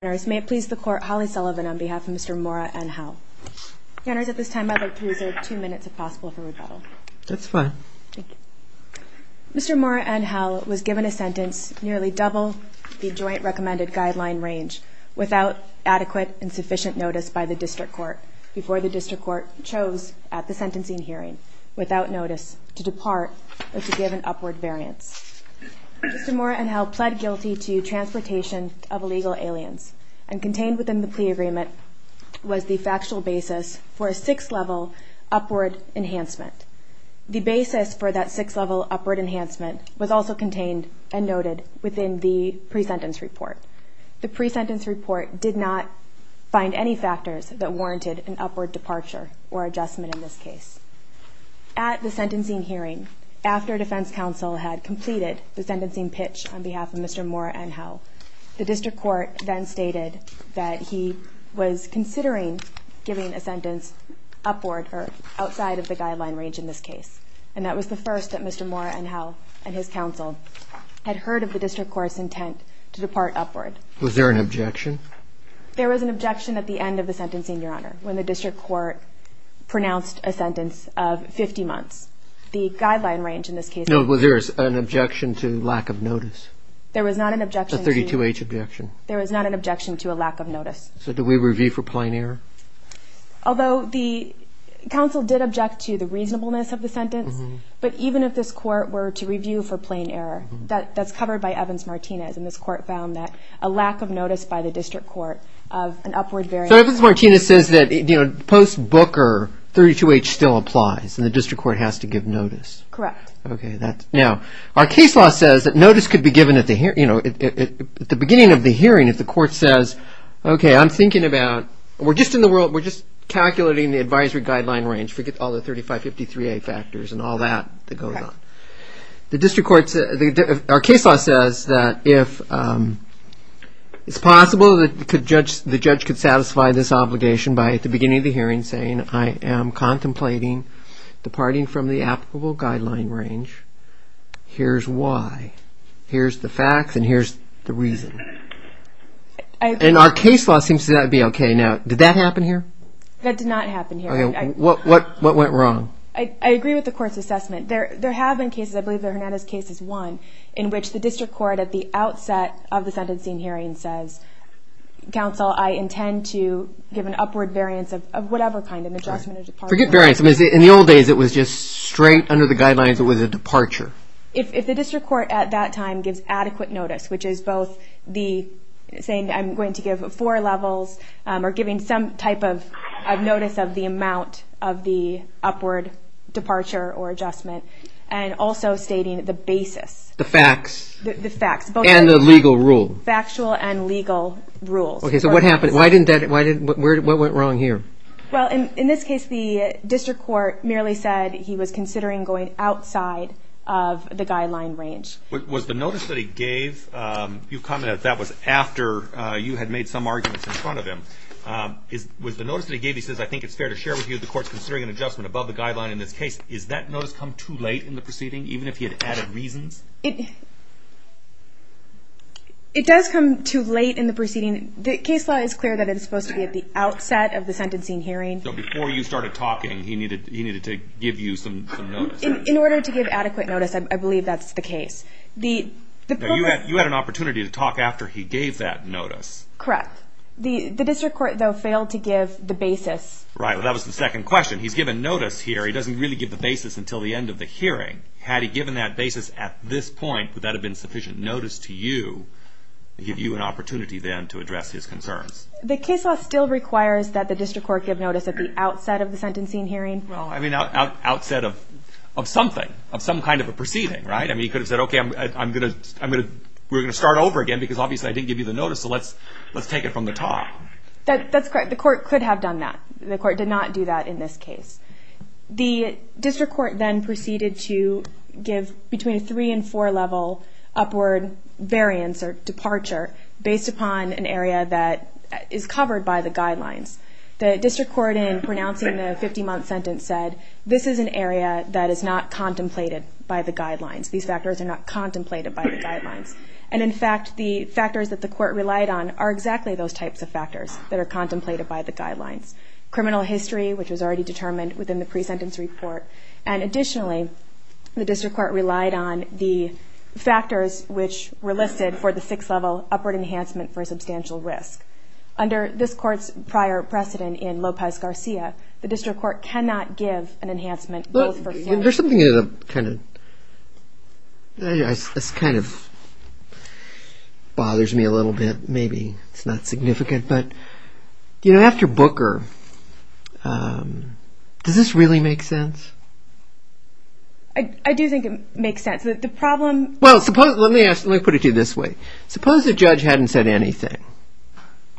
May it please the court, Holly Sullivan on behalf of Mr. Mora-Angel Counters, at this time I would like to reserve two minutes if possible for rebuttal. That's fine. Thank you. Mr. Mora-Angel was given a sentence nearly double the Joint Recommended Guideline range without adequate and sufficient notice by the District Court before the District Court chose at the sentencing hearing, without notice, to depart or to give an upward variance. Mr. Mora-Angel pled guilty to transportation of illegal aliens and contained within the plea agreement was the factual basis for a six-level upward enhancement. The basis for that six-level upward enhancement was also contained and noted within the pre-sentence report. The pre-sentence report did not find any factors that warranted an upward departure or adjustment in this case. At the sentencing hearing, after defense counsel had completed the sentencing pitch on behalf of Mr. Mora-Angel, the District Court then stated that he was considering giving a sentence upward or outside of the guideline range in this case. And that was the first that Mr. Mora-Angel and his counsel had heard of the District Court's intent to depart upward. Was there an objection? There was an objection at the end of the sentencing, Your Honor, when the District Court pronounced a sentence of 50 months. The guideline range in this case... No, was there an objection to lack of notice? There was not an objection to... A 32-H objection. There was not an objection to a lack of notice. So did we review for plain error? Although the counsel did object to the reasonableness of the sentence, but even if this Court were to review for plain error, that's covered by Evans-Martinez, and this Court found that a lack of notice by the District Court of an upward variant... So Evans-Martinez says that post-Booker, 32-H still applies, and the District Court has to give notice. Correct. Okay. Now, our case law says that notice could be given at the beginning of the hearing if the Court says, okay, I'm thinking about... we're just calculating the advisory guideline range. Forget all the 3553-A factors and all that that goes on. The District Court's case law says that if it's possible that the judge could satisfy this obligation by at the beginning of the hearing saying, I am contemplating departing from the applicable guideline range, here's why, here's the facts, and here's the reason. And our case law seems to be okay. Now, did that happen here? That did not happen here. What went wrong? I agree with the Court's assessment. There have been cases, I believe that Hernandez's case is one, in which the District Court at the outset of the sentencing hearing says, counsel, I intend to give an upward variance of whatever kind, an adjustment or departure. Forget variance. In the old days, it was just straight under the guidelines. It was a departure. If the District Court at that time gives adequate notice, which is both saying I'm going to give four levels or giving some type of notice of the amount of the upward departure or adjustment, and also stating the basis. The facts. The facts. And the legal rule. Factual and legal rules. Okay, so what happened? What went wrong here? Well, in this case, the District Court merely said he was considering going outside of the guideline range. Was the notice that he gave, you commented that was after you had made some arguments in front of him. Was the notice that he gave, he says, I think it's fair to share with you, the Court's considering an adjustment above the guideline in this case. Is that notice come too late in the proceeding, even if he had added reasons? It does come too late in the proceeding. The case law is clear that it's supposed to be at the outset of the sentencing hearing. So before you started talking, he needed to give you some notice. In order to give adequate notice, I believe that's the case. You had an opportunity to talk after he gave that notice. Correct. The District Court, though, failed to give the basis. Right. Well, that was the second question. He's given notice here. He doesn't really give the basis until the end of the hearing. Had he given that basis at this point, would that have been sufficient notice to you to give you an opportunity then to address his concerns? The case law still requires that the District Court give notice at the outset of the sentencing hearing. Well, I mean, outset of something, of some kind of a proceeding, right? I mean, he could have said, okay, we're going to start over again because obviously I didn't give you the notice, so let's take it from the top. That's correct. The Court could have done that. The Court did not do that in this case. The District Court then proceeded to give between a three- and four-level upward variance or departure based upon an area that is covered by the guidelines. The District Court in pronouncing the 50-month sentence said, this is an area that is not contemplated by the guidelines. These factors are not contemplated by the guidelines. And in fact, the factors that the Court relied on are exactly those types of factors that are contemplated by the guidelines. Criminal history, which was already determined within the pre-sentence report, and additionally, the District Court relied on the factors which were listed for the six-level upward enhancement for substantial risk. Under this Court's prior precedent in Lopez-Garcia, the District Court cannot give an enhancement both for... There's something that kind of bothers me a little bit. Maybe it's not significant. But, you know, after Booker, does this really make sense? I do think it makes sense. The problem... Well, let me put it to you this way. Suppose the judge hadn't said anything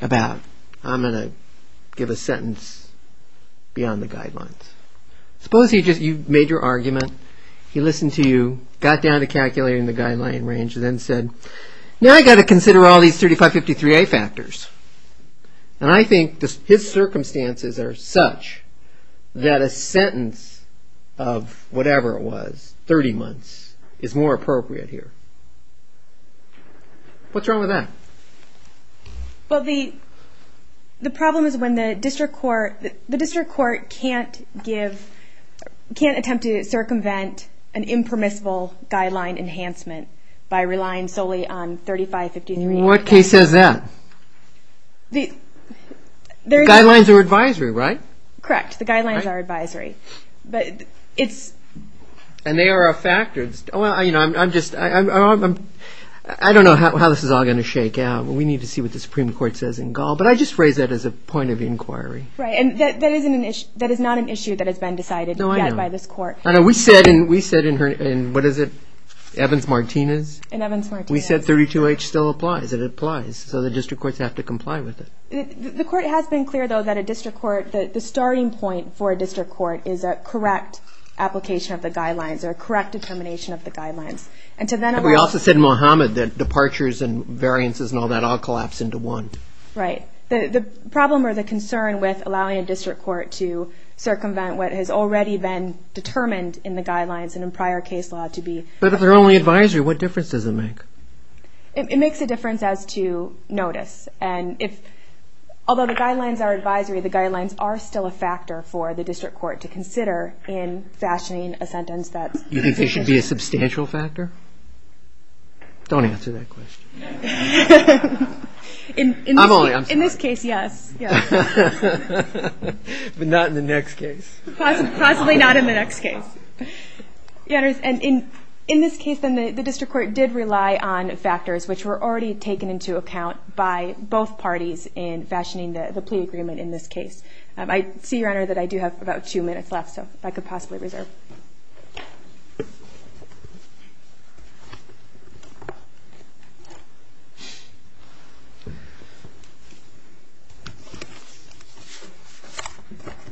about, I'm going to give a sentence beyond the guidelines. Suppose you made your argument, he listened to you, got down to calculating the guideline range, and then said, now I've got to consider all these 3553A factors. And I think his circumstances are such that a sentence of whatever it was, 30 months, is more appropriate here. What's wrong with that? Well, the problem is when the District Court can't give, can't attempt to circumvent an impermissible guideline enhancement by relying solely on 3553A. And what case says that? The guidelines are advisory, right? Correct. The guidelines are advisory. But it's... And they are a factor. You know, I'm just, I don't know how this is all going to shake out. We need to see what the Supreme Court says in Gaul. But I just phrase that as a point of inquiry. Right. And that is not an issue that has been decided yet by this Court. No, I know. We said in, what is it, Evans-Martinez? In Evans-Martinez. We said 32H still applies. It applies. So the District Courts have to comply with it. The Court has been clear, though, that a District Court, the starting point for a District Court is a correct application of the guidelines or a correct determination of the guidelines. And to then allow... We also said in Mohammed that departures and variances and all that all collapse into one. Right. The problem or the concern with allowing a District Court to circumvent what has already been determined in the guidelines and in prior case law to be... But if they're only advisory, what difference does it make? It makes a difference as to notice. And if, although the guidelines are advisory, the guidelines are still a factor for the District Court to consider in fashioning a sentence that's... You think there should be a substantial factor? Don't answer that question. I'm only... In this case, yes. But not in the next case. Possibly not in the next case. And in this case, then, the District Court did rely on factors which were already taken into account by both parties in fashioning the plea agreement in this case. I see, Your Honor, that I do have about two minutes left, so if I could possibly reserve.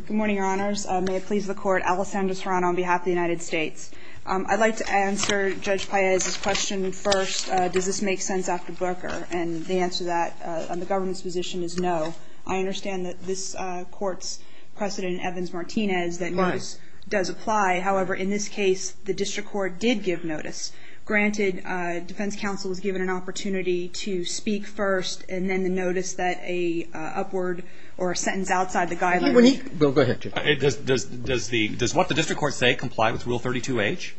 Good morning, Your Honors. May it please the Court, Alessandra Serrano on behalf of the United States. I'd like to answer Judge Paez's question first, does this make sense after Booker? And the answer to that on the government's position is no. I understand that this Court's precedent, Evans-Martinez, that notice does apply. However, in this case, the District Court did give notice. Granted, defense counsel was given an opportunity to speak first and then the notice that a upward or a sentence outside the guidelines... Bill, go ahead. Does what the District Court say comply with Rule 32H?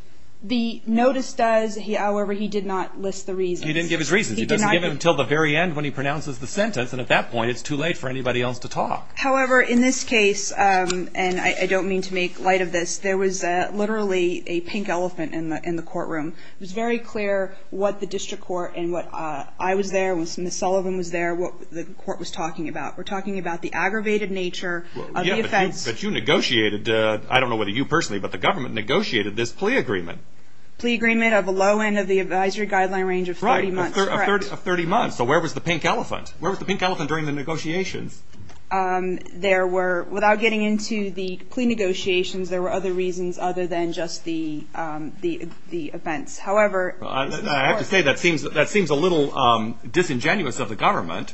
The notice does, however, he did not list the reasons. He didn't give his reasons. He doesn't give them until the very end when he pronounces the sentence, and at that point it's too late for anybody else to talk. However, in this case, and I don't mean to make light of this, there was literally a pink elephant in the courtroom. It was very clear what the District Court and what I was there, what Ms. Sullivan was there, what the Court was talking about. We're talking about the aggravated nature of the offense. But you negotiated, I don't know whether you personally, but the government negotiated this plea agreement. Plea agreement of a low end of the advisory guideline range of 30 months. Right, of 30 months. So where was the pink elephant? Where was the pink elephant during the negotiations? There were, without getting into the plea negotiations, there were other reasons other than just the offense. However... I have to say that seems a little disingenuous of the government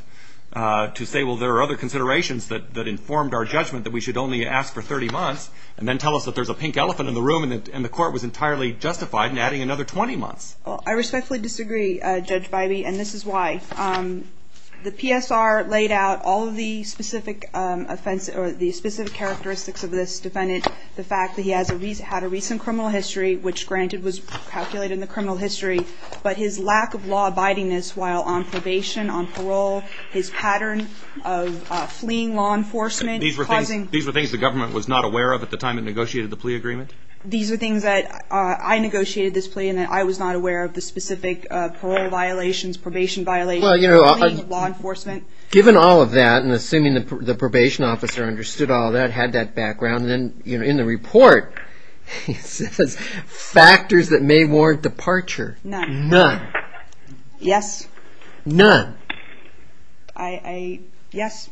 to say, well, there are other considerations that informed our judgment that we should only ask for 30 months and then tell us that there's a pink elephant in the room and the Court was entirely justified in adding another 20 months. I respectfully disagree, Judge Bybee, and this is why. The PSR laid out all of the specific characteristics of this defendant, the fact that he had a recent criminal history, which, granted, was calculated in the criminal history, but his lack of law abiding-ness while on probation, on parole, his pattern of fleeing law enforcement, causing... These were things the government was not aware of at the time it negotiated the plea agreement? These were things that I negotiated this plea and that I was not aware of the specific parole violations, probation violations, fleeing law enforcement. Given all of that, and assuming the probation officer understood all that, had that background, then in the report, it says factors that may warrant departure. None. None. Yes. None. I... yes.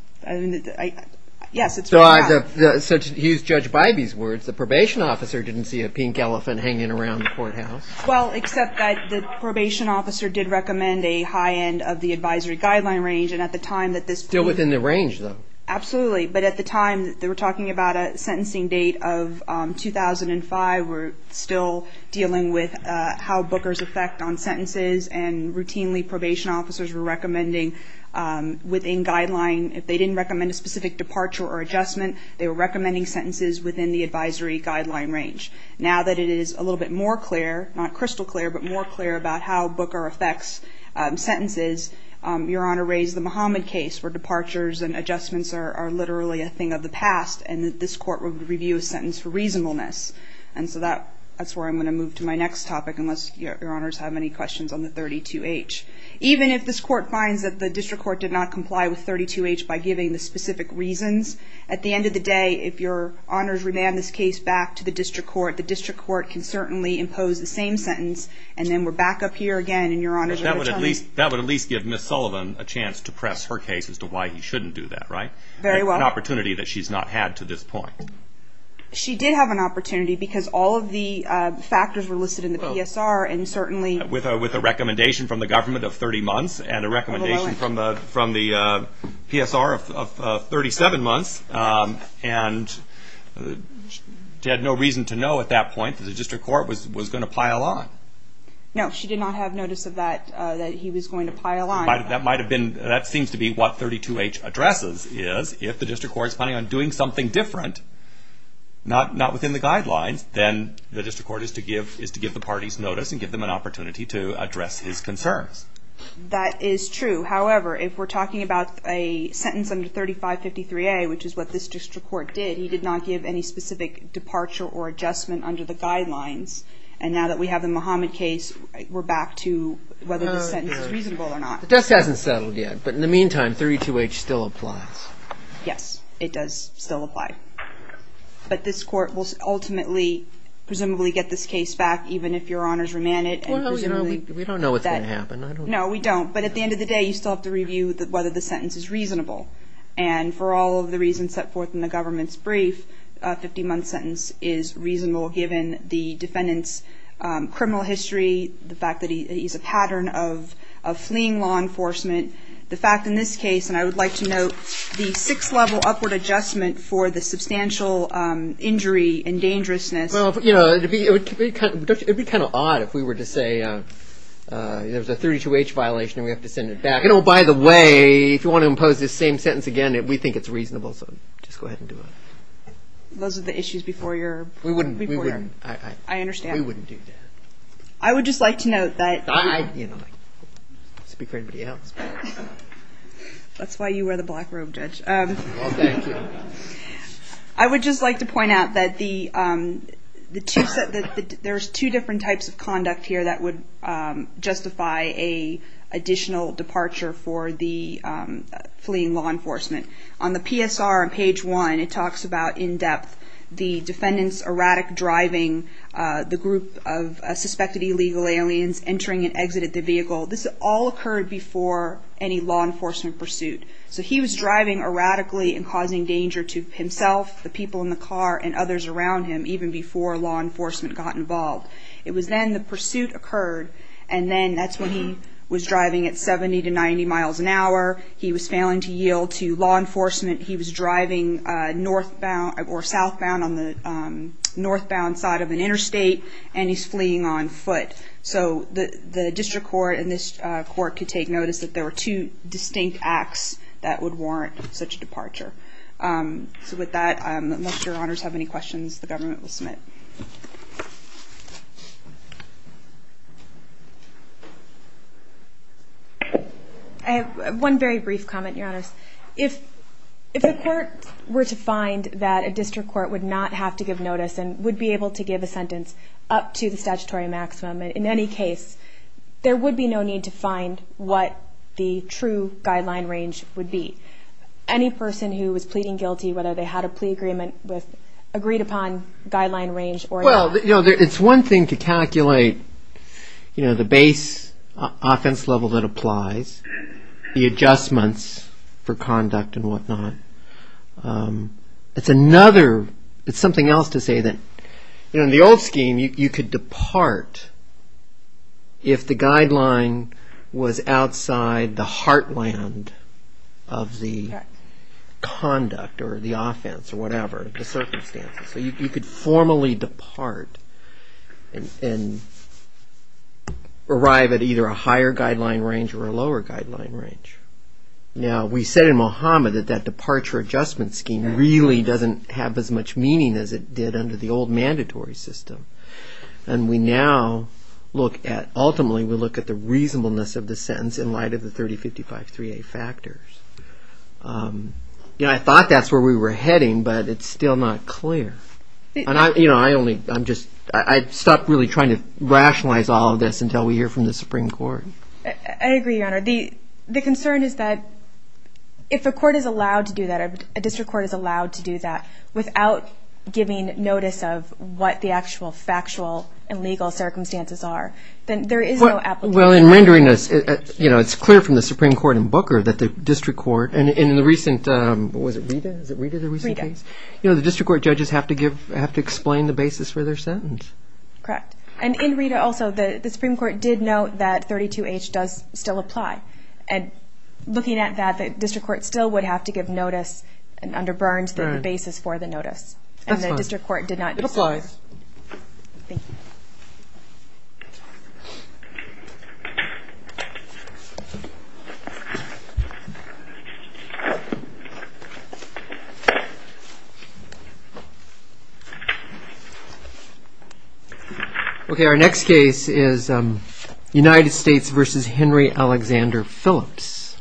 Yes, it's right there. So to use Judge Bybee's words, the probation officer didn't see a pink elephant hanging around the courthouse. Well, except that the probation officer did recommend a high end of the advisory guideline range, and at the time that this plea... Still within the range, though. Absolutely, but at the time, they were talking about a sentencing date of 2005. We're still dealing with how bookers affect on sentences, and routinely probation officers were recommending within guideline, if they didn't recommend a specific departure or adjustment, they were recommending sentences within the advisory guideline range. Now that it is a little bit more clear, not crystal clear, but more clear about how booker affects sentences, Your Honor raised the Muhammad case, where departures and adjustments are literally a thing of the past, and that this court would review a sentence for reasonableness. And so that's where I'm going to move to my next topic, unless Your Honors have any questions on the 32H. Even if this court finds that the district court did not comply with 32H by giving the specific reasons, at the end of the day, if Your Honors remand this case back to the district court, the district court can certainly impose the same sentence, and then we're back up here again, and Your Honors are going to tell me... But that would at least give Ms. Sullivan a chance to press her case as to why he shouldn't do that, right? Very well. An opportunity that she's not had to this point. She did have an opportunity, because all of the factors were listed in the PSR, and certainly... With a recommendation from the government of 30 months, and a recommendation from the PSR of 37 months, and she had no reason to know at that point that the district court was going to pile on. No, she did not have notice of that, that he was going to pile on. That might have been... That seems to be what 32H addresses, is if the district court's planning on doing something different, not within the guidelines, then the district court is to give the parties notice and give them an opportunity to address his concerns. That is true. However, if we're talking about a sentence under 3553A, which is what this district court did, he did not give any specific departure or adjustment under the guidelines, and now that we have the Muhammad case, we're back to whether the sentence is reasonable or not. The dust hasn't settled yet, but in the meantime, 32H still applies. Yes, it does still apply. But this court will ultimately, presumably, get this case back, even if Your Honors remand it. We don't know what's going to happen. No, we don't. But at the end of the day, you still have to review whether the sentence is reasonable. And for all of the reasons set forth in the government's brief, a 50-month sentence is reasonable, given the defendant's criminal history, the fact that he's a pattern of fleeing law enforcement. The fact, in this case, and I would like to note, the six-level upward adjustment for the substantial injury and dangerousness. It would be kind of odd if we were to say there's a 32H violation and we have to send it back. And, oh, by the way, if you want to impose this same sentence again, we think it's reasonable, so just go ahead and do it. Those are the issues before your... We wouldn't. I understand. We wouldn't do that. I would just like to note that... Speak for everybody else. That's why you wear the black robe, Judge. Well, thank you. I would just like to point out that there's two different types of conduct here that would justify an additional departure for the fleeing law enforcement. On the PSR on page 1, it talks about, in depth, the defendant's erratic driving, the group of suspected illegal aliens entering and exiting the vehicle. This all occurred before any law enforcement pursuit. So he was driving erratically and causing danger to himself, the people in the car, and others around him, even before law enforcement got involved. It was then the pursuit occurred, and then that's when he was driving at 70 to 90 miles an hour. He was failing to yield to law enforcement. He was driving northbound or southbound on the northbound side of an interstate, and he's fleeing on foot. So the district court and this court could take notice that there were two distinct acts that would warrant such a departure. So with that, unless your honors have any questions, the government will submit. I have one very brief comment, your honors. If the court were to find that a district court would not have to give notice and would be able to give a sentence up to the statutory maximum in any case, there would be no need to find what the true guideline range would be. Any person who was pleading guilty, whether they had a plea agreement with agreed-upon guideline range or not. Well, it's one thing to calculate the base offense level that applies, the adjustments for conduct and whatnot. It's another, it's something else to say that in the old scheme, you could depart if the guideline was outside the heartland of the conduct or the offense or whatever, the circumstances. So you could formally depart and arrive at either a higher guideline range or a lower guideline range. Now, we said in Mohammed that that departure adjustment scheme really doesn't have as much meaning as it did under the old mandatory system. And we now look at, ultimately, we look at the reasonableness of the sentence in light of the 3055-3A factors. I thought that's where we were heading, but it's still not clear. I stopped really trying to rationalize all of this until we hear from the Supreme Court. I agree, Your Honor. The concern is that if a court is allowed to do that, a district court is allowed to do that, without giving notice of what the actual factual and legal circumstances are, then there is no application. Well, in rendering this, it's clear from the Supreme Court in Booker that the district court, and in the recent, was it Rita? Is it Rita, the recent case? Rita. You know, the district court judges have to explain the basis for their sentence. Correct. And in Rita also, the Supreme Court did note that 32H does still apply. And looking at that, the district court still would have to give notice under Burns the basis for the notice. That's fine. And the district court did not do so. It applies. Thank you. Okay, our next case is United States v. Henry Alexander Phillips.